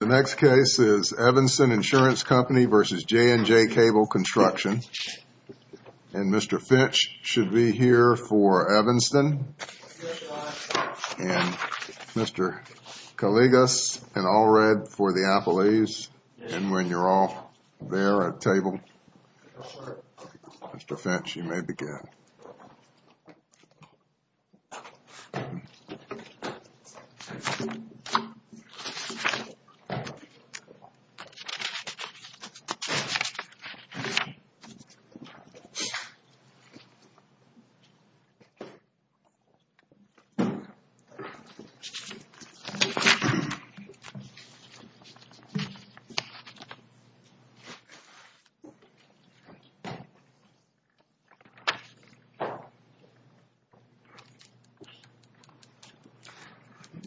The next case is Evanston Insurance Company v. J&J Cable Construction. And Mr. Finch should be here for Evanston. And Mr. Caligas and Allred for the Applease. And when you're all there at table, Mr. Finch, you may begin.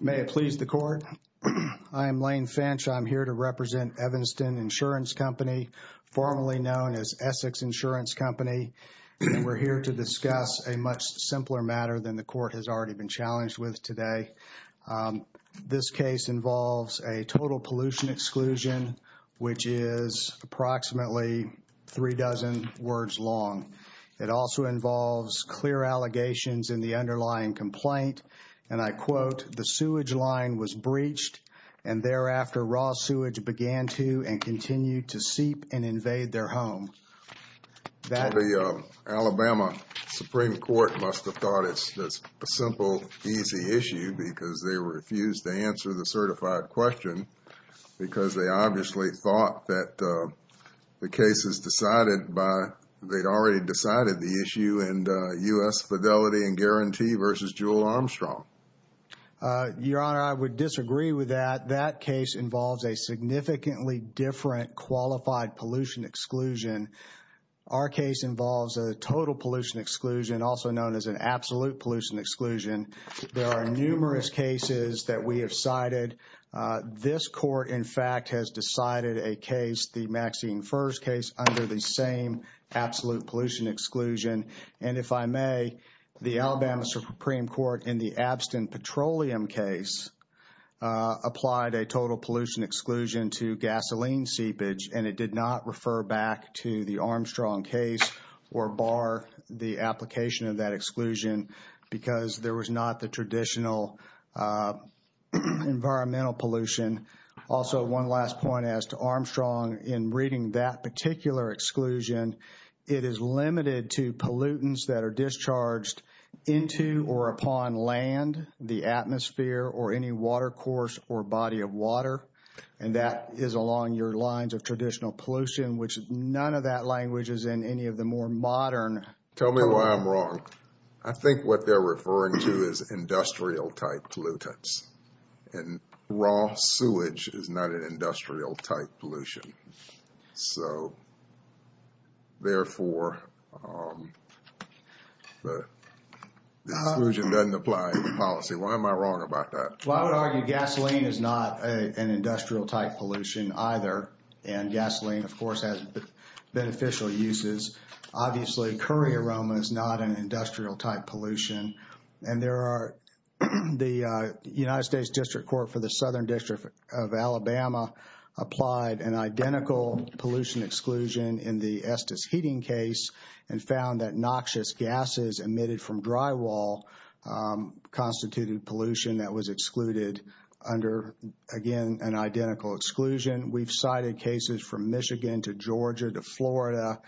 May it please the Court. I am Lane Finch. I'm here to represent Evanston Insurance Company, formerly known as Essex Insurance Company. We're here to discuss a much simpler matter than the Court has already been challenged with today. This case involves a total pollution exclusion, which is approximately three dozen words long. It also involves clear allegations in the underlying complaint. And I quote, the sewage line was breached. And thereafter, raw sewage began to and continued to seep and invade their home. The Alabama Supreme Court must have thought it's a simple, easy issue because they refused to answer the certified question because they obviously thought that the case is decided by, they'd already decided the issue and U.S. Fidelity and Guarantee versus Jewel Armstrong. Your Honor, I would disagree with that. That case involves a significantly different qualified pollution exclusion. Our case involves a total pollution exclusion, also known as an absolute pollution exclusion. There are numerous cases that we have cited. This court, in fact, has decided a case, the Maxine Furze case, under the same absolute pollution exclusion. And if I may, the Alabama Supreme Court in the Abstin Petroleum case applied a total pollution exclusion to gasoline seepage, and it did not refer back to the Armstrong case or bar the application of that exclusion because there was not the traditional environmental pollution. Also, one last point as to Armstrong, in reading that particular exclusion, it is limited to pollutants that are discharged into or upon land, the atmosphere, or any water course or body of water. And that is along your lines of traditional pollution, which none of that language is in any of the more modern. Tell me why I'm wrong. I think what they're referring to is industrial type pollutants. And raw sewage is not an industrial type pollution. So, therefore, the exclusion doesn't apply in the policy. Why am I wrong about that? Well, I would argue gasoline is not an industrial type pollution either. And gasoline, of course, has beneficial uses. Obviously, curry aroma is not an industrial type pollution. And there are the United States District Court for the Southern District of Alabama applied an identical pollution exclusion in the Estes Heating case and found that noxious gases emitted from drywall constituted pollution that was excluded under, again, an identical exclusion. We've cited cases from Michigan to Georgia to Florida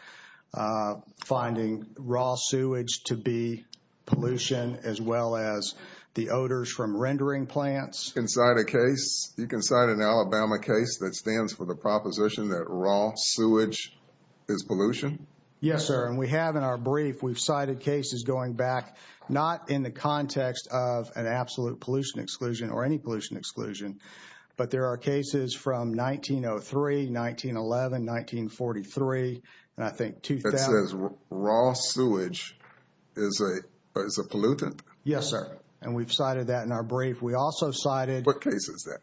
finding raw sewage to be pollution as well as the odors from rendering plants. You can cite a case, you can cite an Alabama case that stands for the proposition that raw sewage is pollution? Yes, sir. And we have in our brief, we've cited cases going back not in the context of an absolute pollution exclusion or any pollution exclusion, but there are cases from 1903, 1911, 1943, and I think 2000. It says raw sewage is a pollutant? Yes, sir. And we've cited that in our brief. We also cited... What case is that?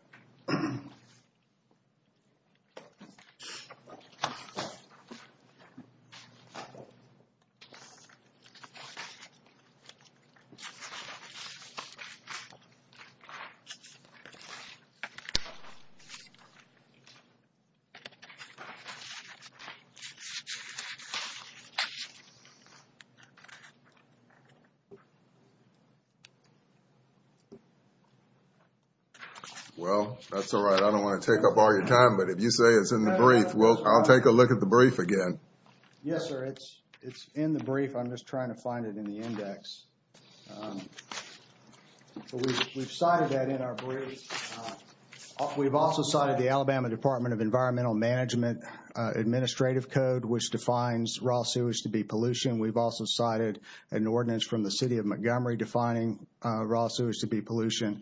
Well, that's all right. I don't want to take up all your time. But if you say it's in the brief, well, I'll take a look at the brief again. Yes, sir. It's in the brief. I'm just trying to find it in the index. We've cited that in our brief. We've also cited the Alabama Department of Environmental Management Administrative Code, which defines raw sewage to be pollution. We've also cited an ordinance from the city of Montgomery defining raw sewage to be pollution.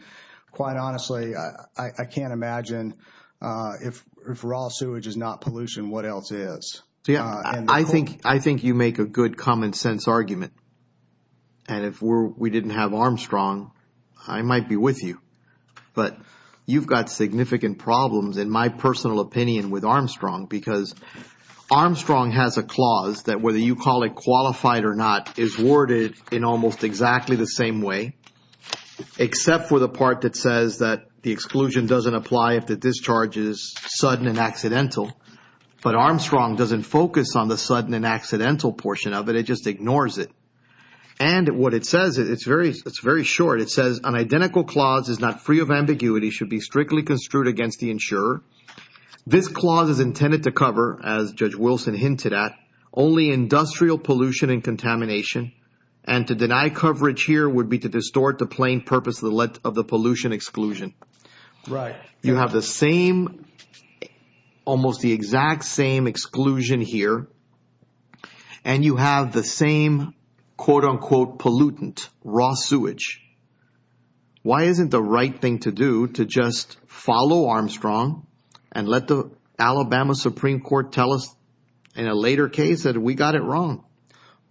Quite honestly, I can't imagine if raw sewage is not pollution, what else is? I think you make a good common sense argument. And if we didn't have Armstrong, I might be with you. But you've got significant problems, in my personal opinion, with Armstrong because Armstrong has a clause that whether you call it qualified or not is worded in almost exactly the same way, except for the part that says that the exclusion doesn't apply if the discharge is sudden and accidental. But Armstrong doesn't focus on the sudden and accidental portion of it. It just ignores it. And what it says, it's very short. It says, an identical clause is not free of ambiguity, should be strictly construed against the insurer. This clause is intended to cover, as Judge Wilson hinted at, only industrial pollution and contamination. And to deny coverage here would be to distort the plain purpose of the pollution exclusion. Right. You have the same, almost the exact same exclusion here. And you have the same, quote unquote, pollutant, raw sewage. Why isn't the right thing to do to just follow Armstrong and let the Alabama Supreme Court tell us in a later case that we got it wrong?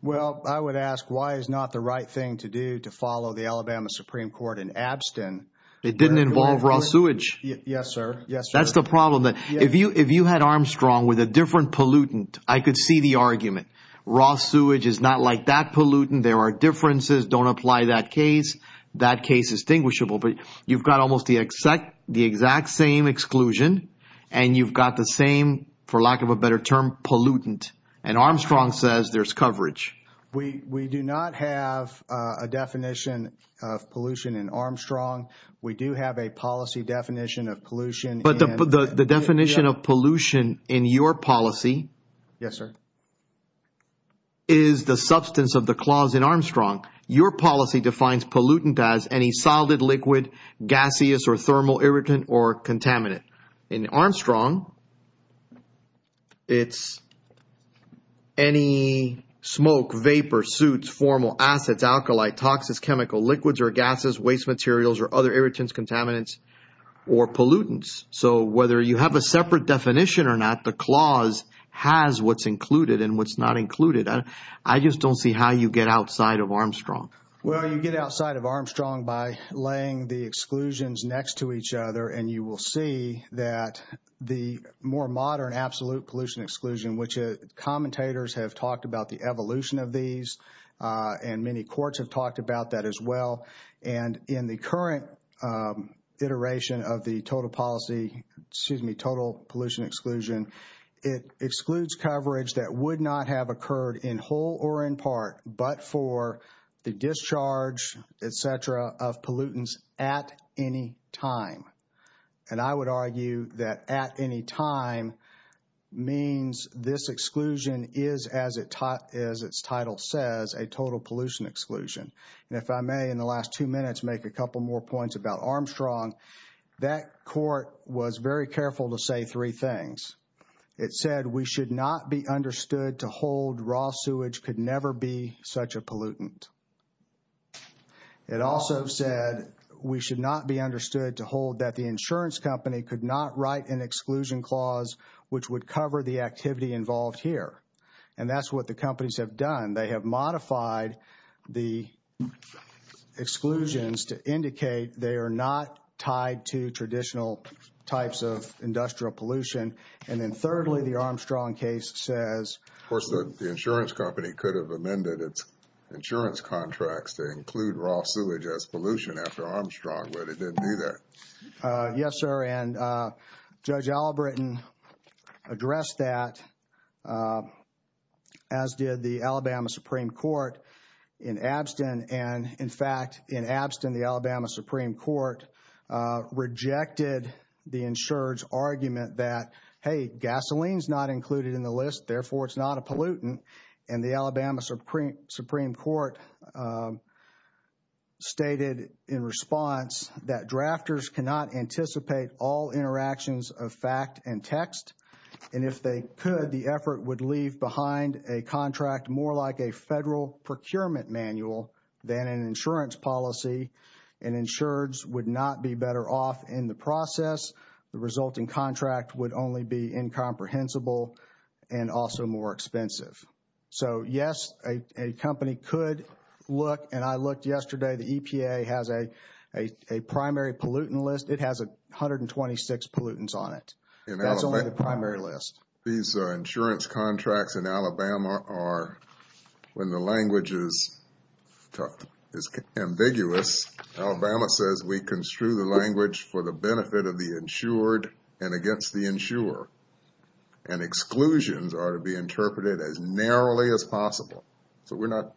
Well, I would ask, why is not the right thing to do to follow the Alabama Supreme Court in Abston? It didn't involve raw sewage. Yes, sir. That's the problem. If you had Armstrong with a different pollutant, I could see the argument. Raw sewage is not like that pollutant. There are differences. Don't apply that case. That case is distinguishable. But you've got almost the exact same exclusion. And you've got the same, for lack of a better term, pollutant. And Armstrong says there's coverage. We do not have a definition of pollution in Armstrong. We do have a policy definition of pollution. But the definition of pollution in your policy is the substance of the clause in Armstrong. Your policy defines pollutant as any solid liquid, gaseous, or thermal irritant, or contaminant. In Armstrong, it's any smoke, vapor, soot, formal acids, alkali, toxics, chemical liquids, or gases, waste materials, or other irritants, contaminants, or pollutants. So whether you have a separate definition or not, the clause has what's included and what's not included. I just don't see how you get outside of Armstrong. Well, you get outside of Armstrong by laying the exclusions next to each other. And you will see that the more modern absolute pollution exclusion, which commentators have talked about the evolution of these, and many courts have talked about that as well. And in the current iteration of the total policy, excuse me, total pollution exclusion, it excludes coverage that would not have occurred in whole or in part, but for the discharge, et cetera, of pollutants at any time. And I would argue that at any time means this exclusion is, as its title says, a total pollution exclusion. And if I may, in the last two minutes, make a couple more points about Armstrong. That court was very careful to say three things. It said we should not be understood to hold raw sewage could never be such a pollutant. It also said we should not be understood to hold that the insurance company could not write an exclusion clause which would cover the activity involved here. And that's what the companies have done. They have modified the exclusions to indicate they are not tied to traditional types of industrial pollution. And then thirdly, the Armstrong case says- Of course, the insurance company could have amended its insurance contracts to include raw sewage as pollution after Armstrong, but it didn't do that. Yes, sir. And Judge Albritton addressed that, as did the Alabama Supreme Court in Abstin. And in fact, in Abstin, the Alabama Supreme Court rejected the insured's argument that, hey, gasoline is not included in the list. Therefore, it's not a pollutant. And the Alabama Supreme Court stated in response that drafters cannot anticipate all interactions of fact and text. And if they could, the effort would leave behind a contract more like a federal procurement manual than an insurance policy, and insureds would not be better off in the process. The resulting contract would only be incomprehensible and also more expensive. So yes, a company could look, and I looked yesterday. The EPA has a primary pollutant list. It has 126 pollutants on it. That's only the primary list. These insurance contracts in Alabama are, when the language is ambiguous, Alabama says we construe the language for the benefit of the insured and against the insurer. And exclusions are to be interpreted as narrowly as possible. So we're not,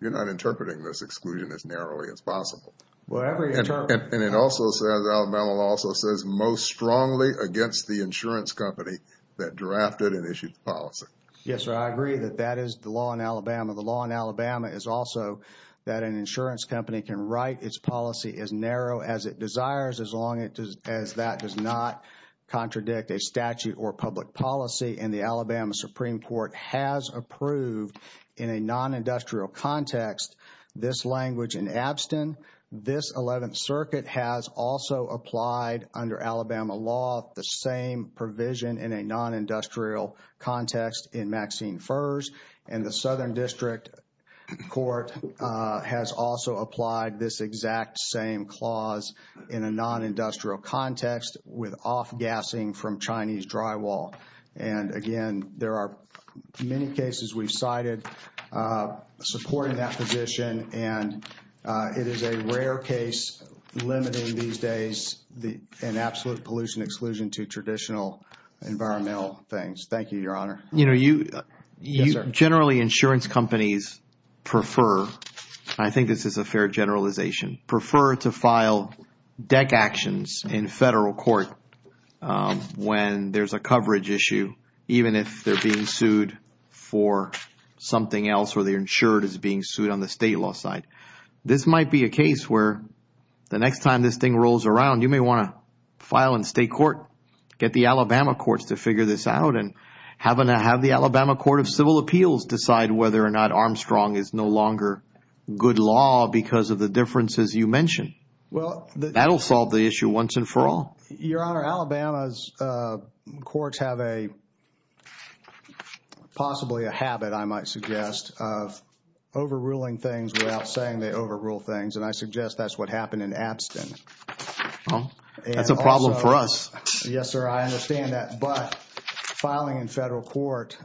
you're not interpreting this exclusion as narrowly as possible. Well, I mean, And it also says, Alabama law also says most strongly against the insurance company that drafted and issued the policy. Yes, sir. I agree that that is the law in Alabama. The law in Alabama is also that an insurance company can write its policy as narrow as it desires as long as that does not contradict a statute or public policy. And the Alabama Supreme Court has approved in a non-industrial context this language in Abstin. This Eleventh Circuit has also applied under Alabama law the same provision in a non-industrial context in Maxine Fers. And the Southern District Court has also applied this exact same clause in a non-industrial context with off-gassing from Chinese drywall. And again, there are many cases we've cited supporting that position. And it is a rare case limiting these days an absolute pollution exclusion to traditional environmental things. Thank you, Your Honor. You know, you, generally insurance companies prefer, I think this is a fair generalization, prefer to file deck actions in federal court when there's a coverage issue, even if they're being sued for something else or they're insured as being sued on the state law side. This might be a case where the next time this thing rolls around, you may want to file in state court, get the Alabama courts to figure this out and have the Alabama Court of Civil Appeals decide whether or not Armstrong is no longer good law because of the differences you mentioned. Well, that'll solve the issue once and for all. Your Honor, Alabama's courts have a, possibly a habit, I might suggest, of overruling things without saying they overrule things. And I suggest that's what happened in Abstin. That's a problem for us. Yes, sir. I understand that. But filing in federal court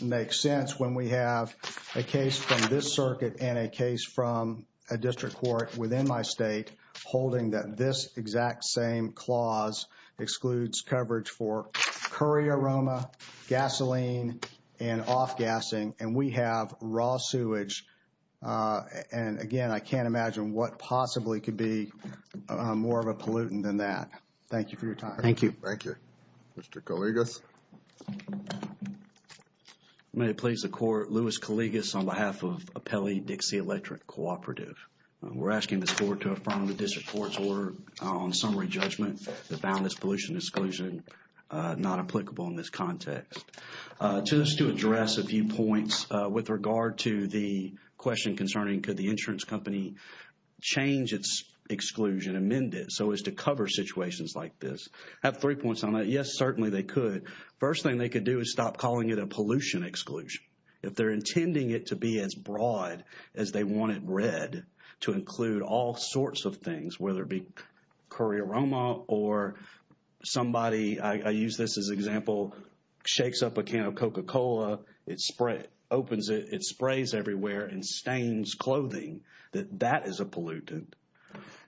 makes sense when we have a case from this circuit and a case from a district court within my state holding that this exact same clause excludes coverage for curry aroma, gasoline, and off-gassing. And we have raw sewage. And again, I can't imagine what possibly could be more of a pollutant than that. Thank you for your time. Thank you. Thank you. Mr. Coligus. May it please the court, Louis Coligus on behalf of Appellee Dixie Electric Cooperative. We're asking the court to affirm the district court's order on summary judgment that found this pollution exclusion not applicable in this context. Just to address a few points with regard to the question concerning could the insurance company change its exclusion, amend it so as to cover situations like this. I have three points on that. Yes, certainly they could. First thing they could do is stop calling it a pollution exclusion. If they're intending it to be as broad as they want it read to include all sorts of things, whether it be curry aroma or somebody, I use this as example, shakes up a can of Coca-Cola, it sprays, opens it, it sprays everywhere and stains clothing, that that is a pollutant.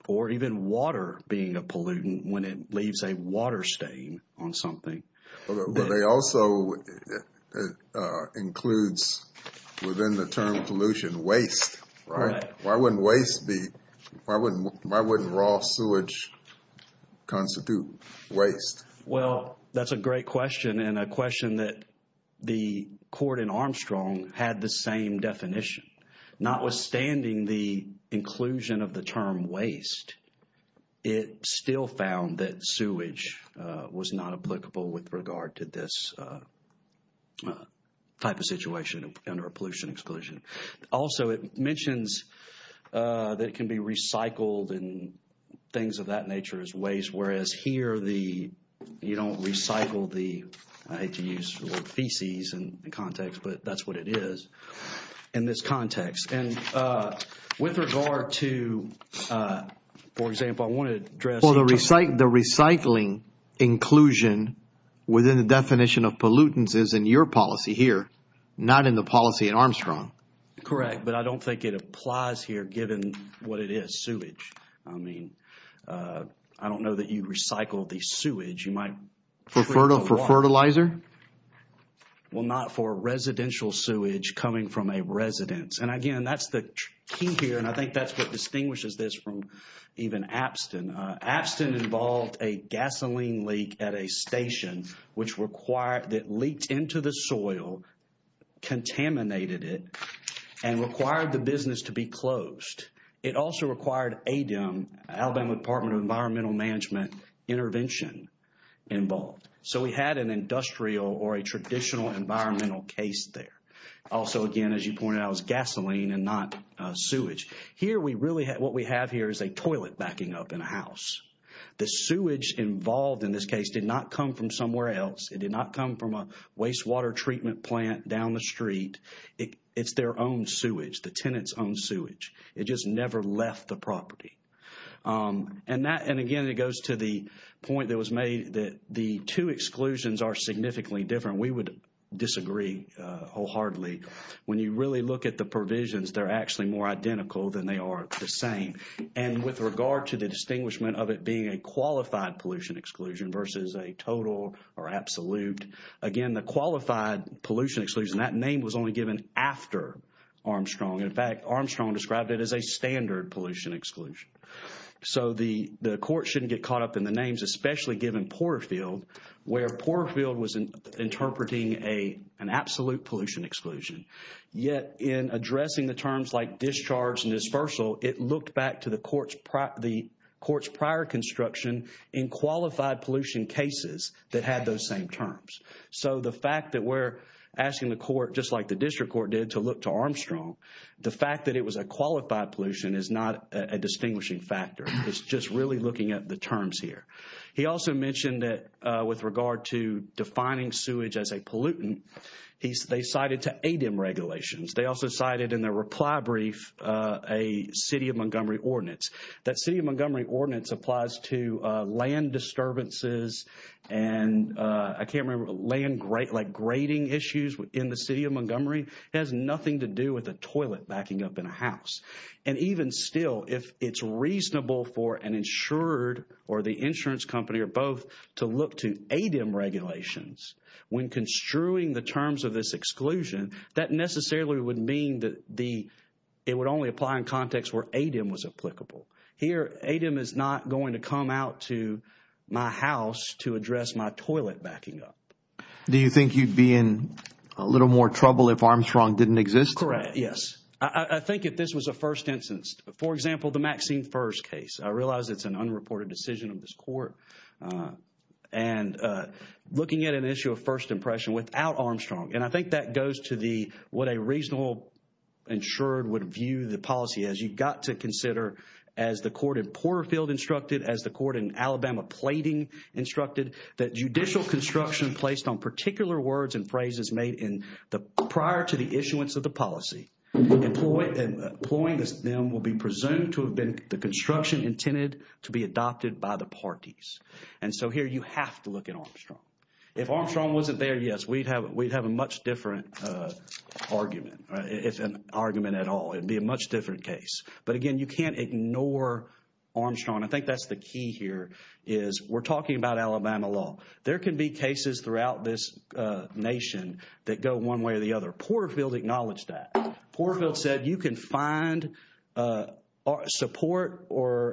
Or even water being a pollutant when it leaves a water stain on something. But they also, it includes within the term pollution waste, right? Why wouldn't waste be, why wouldn't raw sewage constitute waste? Well, that's a great question and a question that the court in Armstrong had the same definition. Notwithstanding the inclusion of the term waste, it still found that sewage was not applicable with regard to this type of situation under a pollution exclusion. Also, it mentions that it can be recycled and things of that nature as waste. Whereas here the, you don't recycle the, I hate to use the word feces in context, but that's what it is in this context. And with regard to, for example, I want to address. Well, the recycling inclusion within the definition of pollutants is in your policy here, not in the policy at Armstrong. Correct. But I don't think it applies here given what it is, sewage. I mean, I don't know that you recycle the sewage. You might. For fertilizer? Well, not for residential sewage coming from a residence. And again, that's the key here. And I think that's what distinguishes this from even Apston. Apston involved a gasoline leak at a station which required, that leaked into the soil, contaminated it, and required the business to be closed. It also required ADEM, Alabama Department of Environmental Management, intervention involved. So we had an industrial or a traditional environmental case there. Also, again, as you pointed out, it was gasoline and not sewage. Here we really had, what we have here is a toilet backing up in a house. The sewage involved in this case did not come from somewhere else. It did not come from a wastewater treatment plant down the street. It's their own sewage, the tenant's own sewage. It just never left the property. And that, and again, it goes to the point that was made that the two exclusions are significantly different. We would disagree wholeheartedly. When you really look at the provisions, they're actually more identical than they are the same. And with regard to the distinguishment of it being a qualified pollution exclusion versus a total or absolute, again, the qualified pollution exclusion, that name was only given after Armstrong. In fact, Armstrong described it as a standard pollution exclusion. So the court shouldn't get caught up in the names, especially given Porterfield, where Porterfield was interpreting an absolute pollution exclusion. Yet in addressing the terms like discharge and dispersal, it looked back to the court's prior construction in qualified pollution cases that had those same terms. So the fact that we're asking the court, just like the district court did, to look to Armstrong, the fact that it was a qualified pollution is not a distinguishing factor. It's just really looking at the terms here. He also mentioned that with regard to defining sewage as a pollutant, they cited to ADEM regulations. They also cited in their reply brief a City of Montgomery ordinance. That City of Montgomery ordinance applies to land disturbances and I can't remember, land like grading issues in the City of Montgomery. It has nothing to do with a toilet backing up in a house. And even still, if it's reasonable for an insured or the insurance company or both to look to ADEM regulations when construing the terms of this exclusion, that necessarily would mean that it would only apply in context where ADEM was applicable. Here, ADEM is not going to come out to my house to address my toilet backing up. Do you think you'd be in a little more trouble if Armstrong didn't exist? Correct. Yes. I think if this was a first instance, for example, the Maxine Furze case, I realize it's an unreported decision of this court and looking at an issue of first impression without Armstrong and I think that goes to the, what a reasonable insured would view the policy as. You've got to consider as the court in Porterfield instructed, as the court in Alabama Plating instructed, that judicial construction placed on particular words and phrases made in the prior to the issuance of the policy, employing them will be presumed to have been the construction intended to be adopted by the parties. And so here you have to look at Armstrong. If Armstrong wasn't there, yes, we'd have a much different argument, if an argument at all. It'd be a much different case. But again, you can't ignore Armstrong. I think that's the key here is we're talking about Alabama law. There can be cases throughout this nation that go one way or the other. Porterfield acknowledged that. Porterfield said you can find support or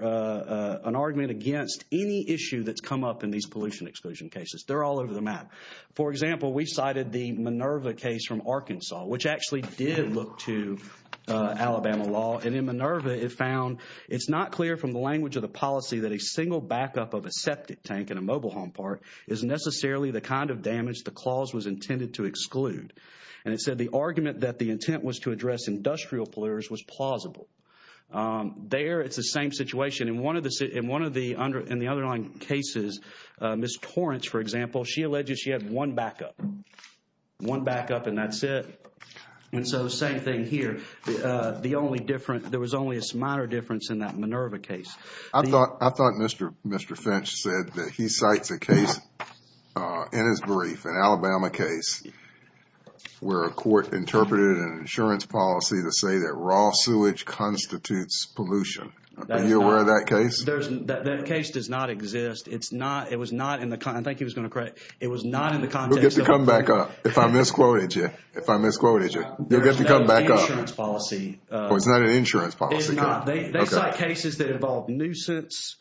an argument against any issue that's come up in these pollution exclusion cases. They're all over the map. For example, we cited the Minerva case from Arkansas, which actually did look to Alabama law. And in Minerva, it found it's not clear from the language of the policy that a single backup of a septic tank in a mobile home park is necessarily the kind of damage the clause was intended to exclude. And it said the argument that the intent was to address industrial polluters was plausible. There, it's the same situation. In one of the underlying cases, Ms. Torrance, for example, she alleged she had one backup. One backup and that's it. And so same thing here. The only difference, there was only a minor difference in that Minerva case. I thought I thought Mr. Mr. Finch said that he cites a case in his brief, an Alabama case, where a court interpreted an insurance policy to say that raw sewage constitutes pollution. Are you aware of that case? There's that case does not exist. It's not it was not in the kind I think he was going to correct. It was not in the context. We'll get to come back up. If I misquoted you, if I misquoted you, you'll get to come back up. It's not an insurance policy. It's not an insurance policy? It's not. They cite cases that involve nuisance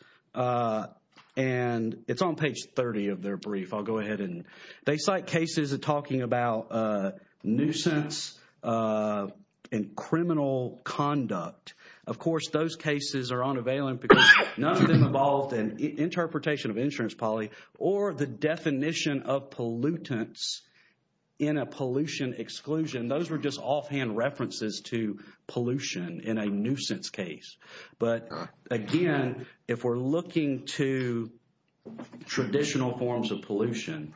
and it's on page 30 of their brief. I'll go ahead and they cite cases of talking about nuisance and criminal conduct. Of course, those cases are unavailable because none of them involved an interpretation of insurance policy or the definition of pollutants in a pollution exclusion. Those were just offhand references to pollution in a nuisance case. But again, if we're looking to traditional forms of pollution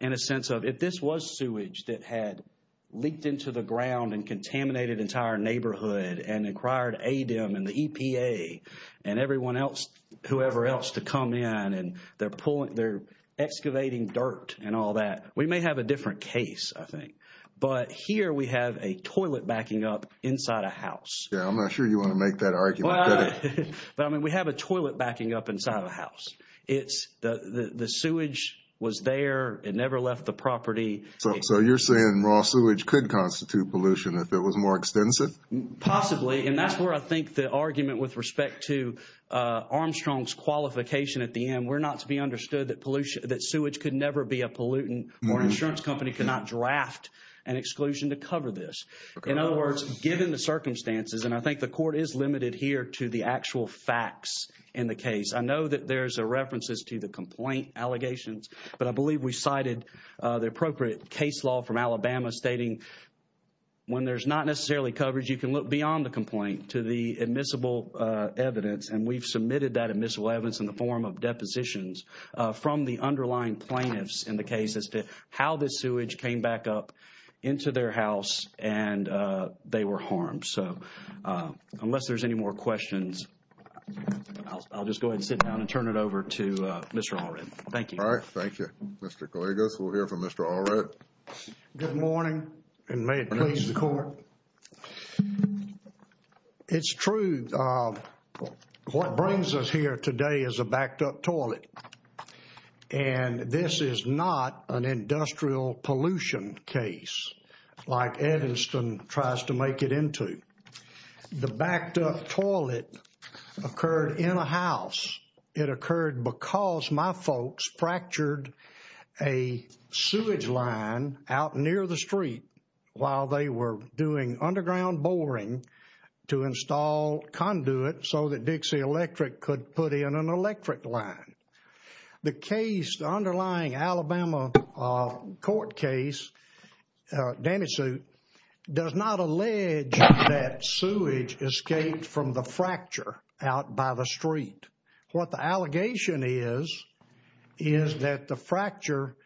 in a sense of if this was sewage that had leaked into the ground and contaminated entire neighborhood and inquired ADEM and the EPA and everyone else, whoever else to come in and they're pulling, they're excavating dirt and all that. We may have a different case, I think. But here we have a toilet backing up inside a house. Yeah, I'm not sure you want to make that argument. But I mean, we have a toilet backing up inside of a house. It's the sewage was there. It never left the property. So you're saying raw sewage could constitute pollution if it was more extensive? Possibly. And that's where I think the argument with respect to Armstrong's qualification at the end were not to be understood that sewage could never be a pollutant or an insurance company could not draft an exclusion to cover this. In other words, given the circumstances and I think the court is limited here to the actual facts in the case. I know that there's a references to the complaint allegations, but I believe we cited the appropriate case law from Alabama stating when there's not necessarily coverage, you can look beyond the complaint to the admissible evidence and we've submitted that admissible evidence in the form of depositions from the underlying plaintiffs in the case as to how this sewage came back up into their house and they were harmed. So unless there's any more questions, I'll just go ahead and sit down and turn it over to Mr. Allred. Thank you. All right. Thank you, Mr. Gallegos. We'll hear from Mr. Allred. Good morning and may it please the court. It's true. What brings us here today is a backed up toilet and this is not an industrial pollution case like Ediston tries to make it into. The backed up toilet occurred in a house. It occurred because my folks fractured a sewage line out near the street while they were doing underground boring to install conduit so that Dixie Electric could put in an electric line. The case, the underlying Alabama court case, damage suit, does not allege that sewage escaped from the fracture out by the street. What the allegation is is that the fracture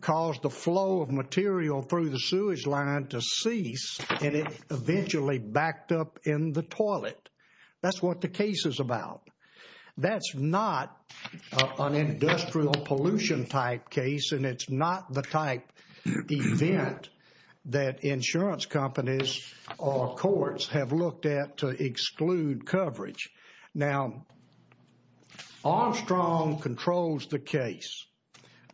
caused the flow of material through the sewage line to cease and it eventually backed up in the toilet. That's what the case is about. That's not an industrial pollution type case and it's not the type event that insurance companies or courts have looked at to exclude coverage. Now, Armstrong controls the case.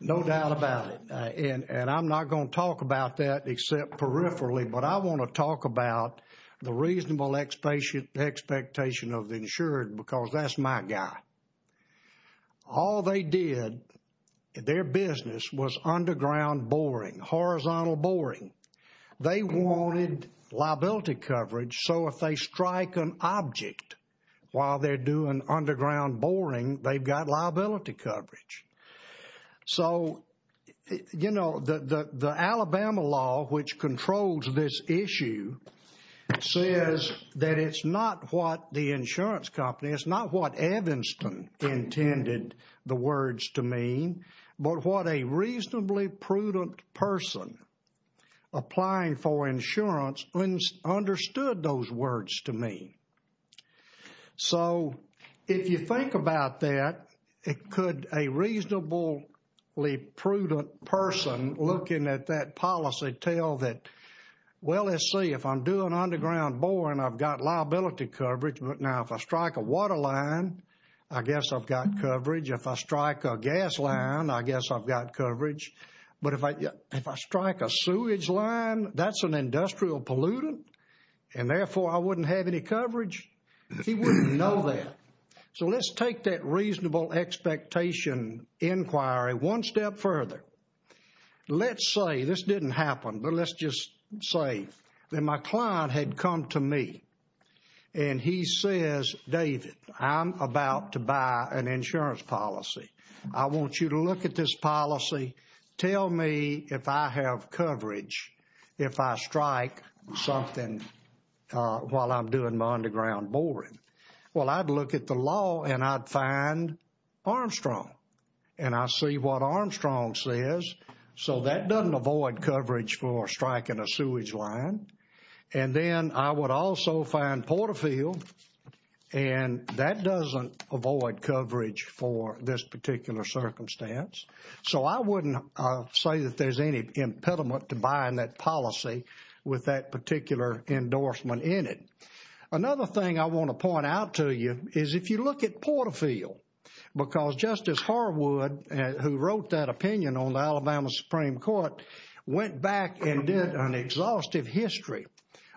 No doubt about it. And I'm not going to talk about that except peripherally, but I want to talk about the reasonable expectation of the insured because that's my guy. All they did, their business, was underground boring, horizontal boring. They wanted liability coverage so if they strike an object while they're doing underground boring, they've got liability coverage. So, you know, the Alabama law which controls this issue says that it's not what the insurance company, it's not what Evanston intended the words to mean, but what a reasonably prudent person applying for insurance understood those words to mean. So, if you think about that, it could a reasonably prudent person looking at that policy tell that, well, let's see, if I'm doing underground boring, I've got liability coverage, but now if I strike a water line, I guess I've got coverage. If I strike a gas line, I guess I've got coverage. But if I strike a sewage line, that's an industrial pollutant and therefore I wouldn't have any coverage. He wouldn't know that. So let's take that reasonable expectation inquiry one step further. Let's say this didn't happen, but let's just say that my client had come to me and he says, David, I'm about to buy an insurance policy. I want you to look at this policy. Tell me if I have coverage if I strike something while I'm doing my underground boring. Well, I'd look at the law and I'd find Armstrong and I see what Armstrong says. So that doesn't avoid coverage for striking a sewage line. And then I would also find Porterfield and that doesn't avoid coverage for this particular circumstance. So I wouldn't say that there's any impediment to buying that policy with that particular endorsement in it. Another thing I want to point out to you is if you look at Porterfield because Justice Harwood who wrote that opinion on the Alabama Supreme Court went back and did an exhaustive history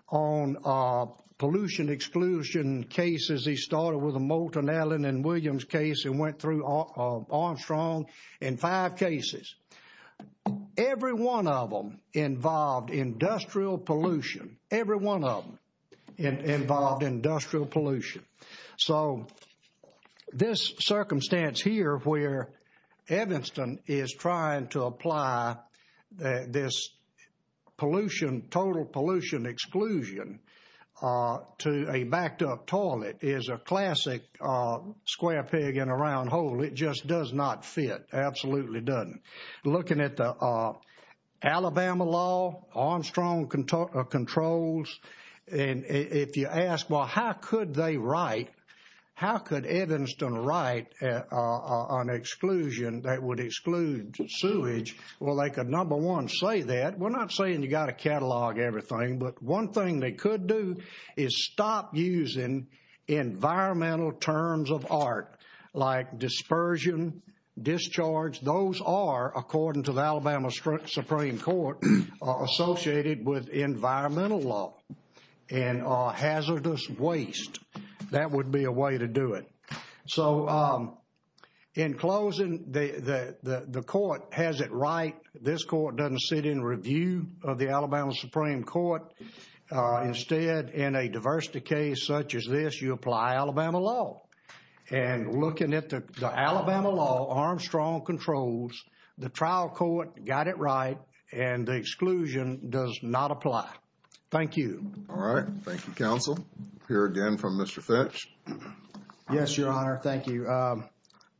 on pollution exclusion cases. He started with a Moulton, Allen and Williams case and went through Armstrong in five cases. Every one of them involved industrial pollution. Every one of them involved industrial pollution. So this circumstance here where Evanston is trying to apply this pollution, total pollution exclusion to a backed up toilet is a classic square pig in a round hole. It just does not fit. Absolutely doesn't. Looking at the Alabama law, Armstrong controls and if you ask, well, how could they write? How could Evanston write on exclusion that would exclude sewage? Well, they could number one say that. We're not saying you got to catalog everything, but one thing they could do is stop using environmental terms of art like dispersion, discharge. Those are, according to the Alabama Supreme Court, associated with environmental law and hazardous waste. That would be a way to do it. So in closing, the court has it right. This court doesn't sit in review of the Alabama Supreme Court. Instead, in a diversity case such as this, you apply Alabama law. And looking at the Alabama law, Armstrong controls, the trial court got it right and the exclusion does not apply. Thank you. All right. Thank you, counsel. Hear again from Mr. Fitch. Yes, Your Honor. Thank you.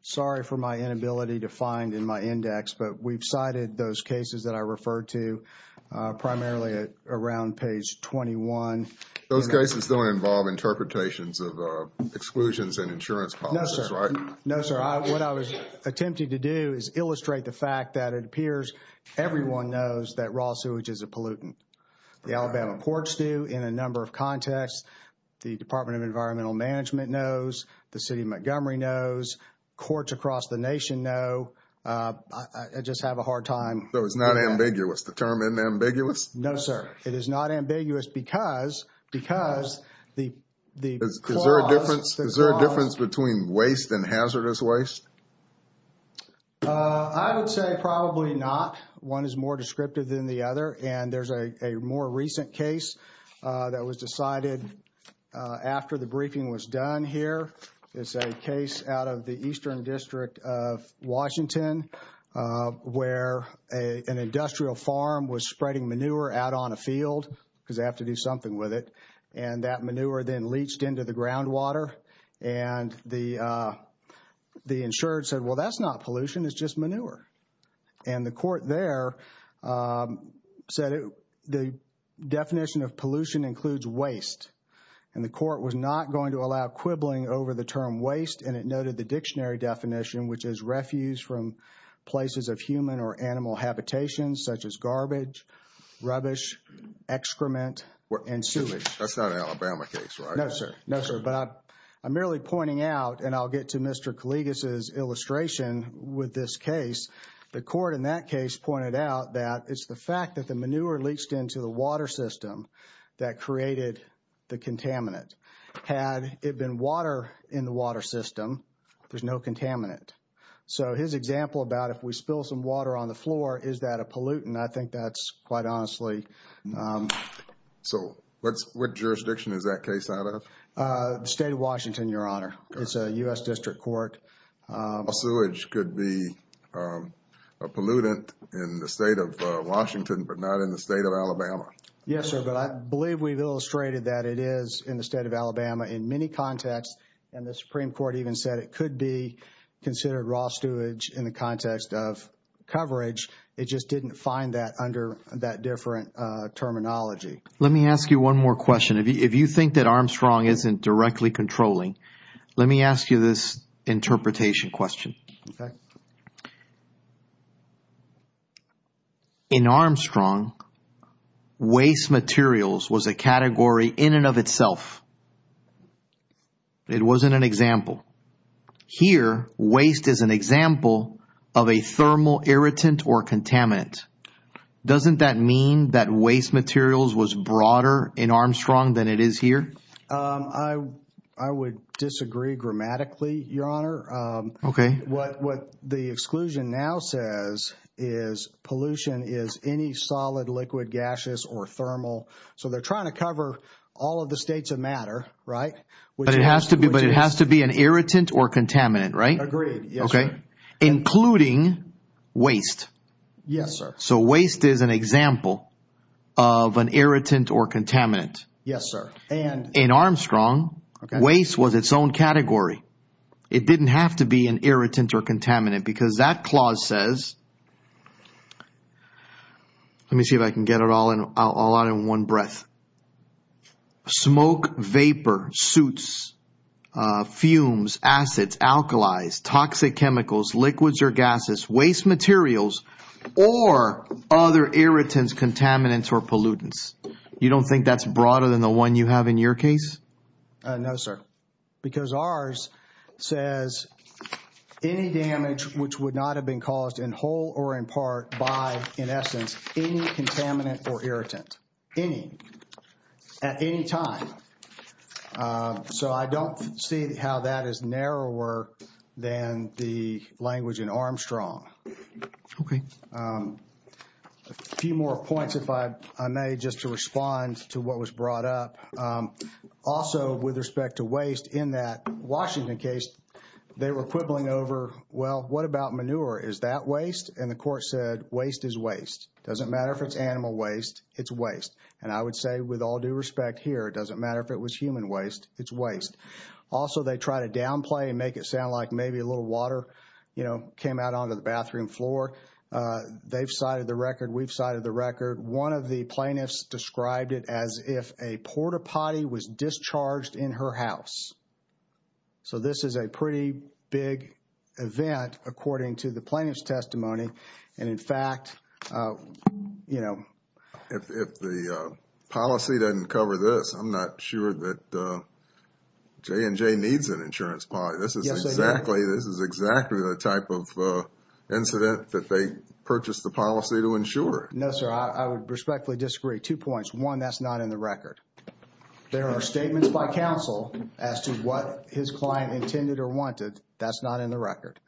Sorry for my inability to find in my index, but we've cited those cases that I referred to primarily around page 21. Those cases don't involve interpretations of exclusions and insurance policies, right? No, sir. What I was attempting to do is illustrate the fact that it appears everyone knows that raw sewage is a pollutant. The Alabama courts do in a number of contexts. The Department of Environmental Management knows. The City of Montgomery knows. Courts across the nation know. I just have a hard time. So it's not ambiguous? The term unambiguous? No, sir. It is not ambiguous because, because the, Is there a difference between waste and hazardous waste? I would say probably not. One is more descriptive than the other. And there's a more recent case that was decided after the briefing was done here. It's a case out of the Eastern District of Washington where an industrial farm was spreading manure out on a field because they have to do something with it. And that manure then leached into the groundwater and the the insured said, well, that's not pollution. It's just manure. And the court there said the definition of pollution includes waste. And the court was not going to allow quibbling over the term waste. And it noted the dictionary definition, which is refuse from places of human or animal habitation, such as garbage, rubbish, excrement, and sewage. That's not an Alabama case, right? No, sir. No, sir. But I'm merely pointing out, and I'll get to Mr. Collegas' illustration with this case. The court in that case pointed out that it's the fact that the manure leached into the water system that created the contaminant. Had it been water in the water system, there's no contaminant. So his example about if we spill some water on the floor, is that a pollutant? I think that's quite honestly. So what's what jurisdiction is that case out of? State of Washington, Your Honor. It's a U.S. District Court. Sewage could be a pollutant in the state of Washington, but not in the state of Alabama. Yes, sir. But I believe we've illustrated that it is in the state of Alabama in many contexts, and the Supreme Court even said it could be considered raw sewage in the context of coverage. It just didn't find that under that different terminology. Let me ask you one more question. If you think that Armstrong isn't directly controlling, let me ask you this interpretation question. In Armstrong, waste materials was a category in and of itself. It wasn't an example. Here, waste is an example of a thermal irritant or contaminant. Doesn't that mean that waste materials was broader in Armstrong than it is here? I would disagree grammatically, Your Honor. Okay. What the exclusion now says is pollution is any solid, liquid, gaseous, or thermal. So they're trying to cover all of the states of matter, right? But it has to be an irritant or contaminant, right? Agreed. Okay. Including waste. Yes, sir. So waste is an example of an irritant or contaminant. Yes, sir. And in Armstrong, waste was its own category. It didn't have to be an irritant or contaminant because that clause says, let me see if I can get it all in one breath. Smoke, vapor, suits, fumes, acids, alkalis, toxic chemicals, liquids, or gases, waste materials, or other irritants, contaminants, or pollutants. You don't think that's broader than the one you have in your case? No, sir. Because ours says any damage which would not have been caused in whole or in part by, in essence, any contaminant or irritant. Any. At any time. So I don't see how that is narrower than the language in Armstrong. Okay. A few more points, if I may, just to respond to what was brought up. Also, with respect to waste, in that Washington case, they were quibbling over, well, what about manure? Is that waste? And the court said, waste is waste. Doesn't matter if it's animal waste. It's waste. And I would say, with all due respect here, it doesn't matter if it was human waste. It's waste. Also, they try to downplay and make it sound like maybe a little water, you know, came out onto the bathroom floor. They've cited the record. We've cited the record. One of the plaintiffs described it as if a port-a-potty was discharged in her house. So this is a pretty big event according to the plaintiff's testimony. And in fact, you know. If the policy doesn't cover this, I'm not sure that J&J needs an insurance policy. This is exactly, this is exactly the type of incident that they purchased the policy to ensure. No, sir. I would respectfully disagree. Two points. One, that's not in the record. There are statements by counsel as to what his client intended or wanted. That's not in the record.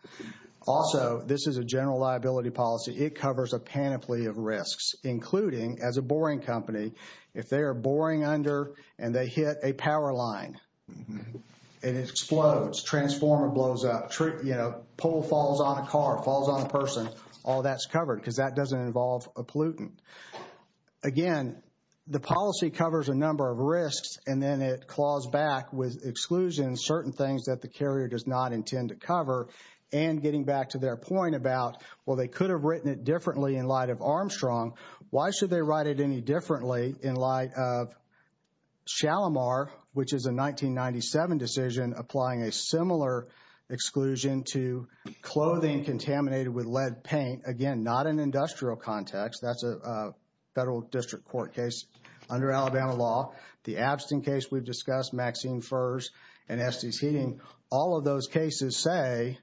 Also, this is a general liability policy. It covers a panoply of risks, including, as a boring company, if they are boring under and they hit a power line, and it explodes, transformer blows up, you know, pole falls on a car, falls on a person, all that's covered because that doesn't involve a pollutant. Again, the policy covers a number of risks and then it claws back with exclusions, certain things that the carrier does not intend to cover, and getting back to their point about, well, they could have written it differently in light of Armstrong. Why should they write it any differently in light of Chalamar, which is a 1997 decision applying a similar exclusion to clothing contaminated with lead paint? Again, not an industrial context. That's a federal district court case under Alabama law. The Abstin case we've discussed, Maxine Furze and Estes Heating, all of those cases say,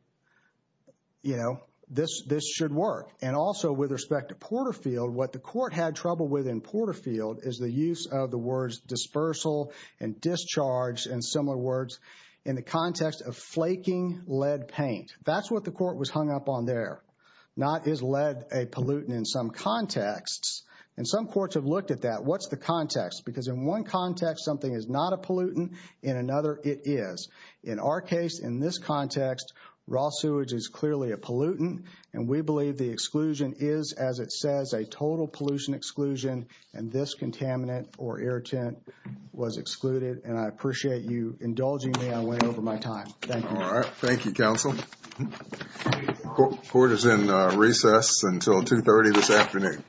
you know, this should work. And also with respect to Porterfield, what the court had trouble with in Porterfield is the use of the words dispersal and discharge and similar words in the context of flaking lead paint. That's what the court was hung up on there. Not is lead a pollutant in some contexts. And some courts have looked at that. What's the context? Because in one context, something is not a pollutant. In another, it is. In our case, in this context, raw sewage is clearly a pollutant. And we believe the exclusion is, as it says, a total pollution exclusion. And this contaminant or irritant was excluded. And I appreciate you indulging me. I went over my time. Thank you. All right. Thank you, counsel. Court is in recess until 2.30 this afternoon.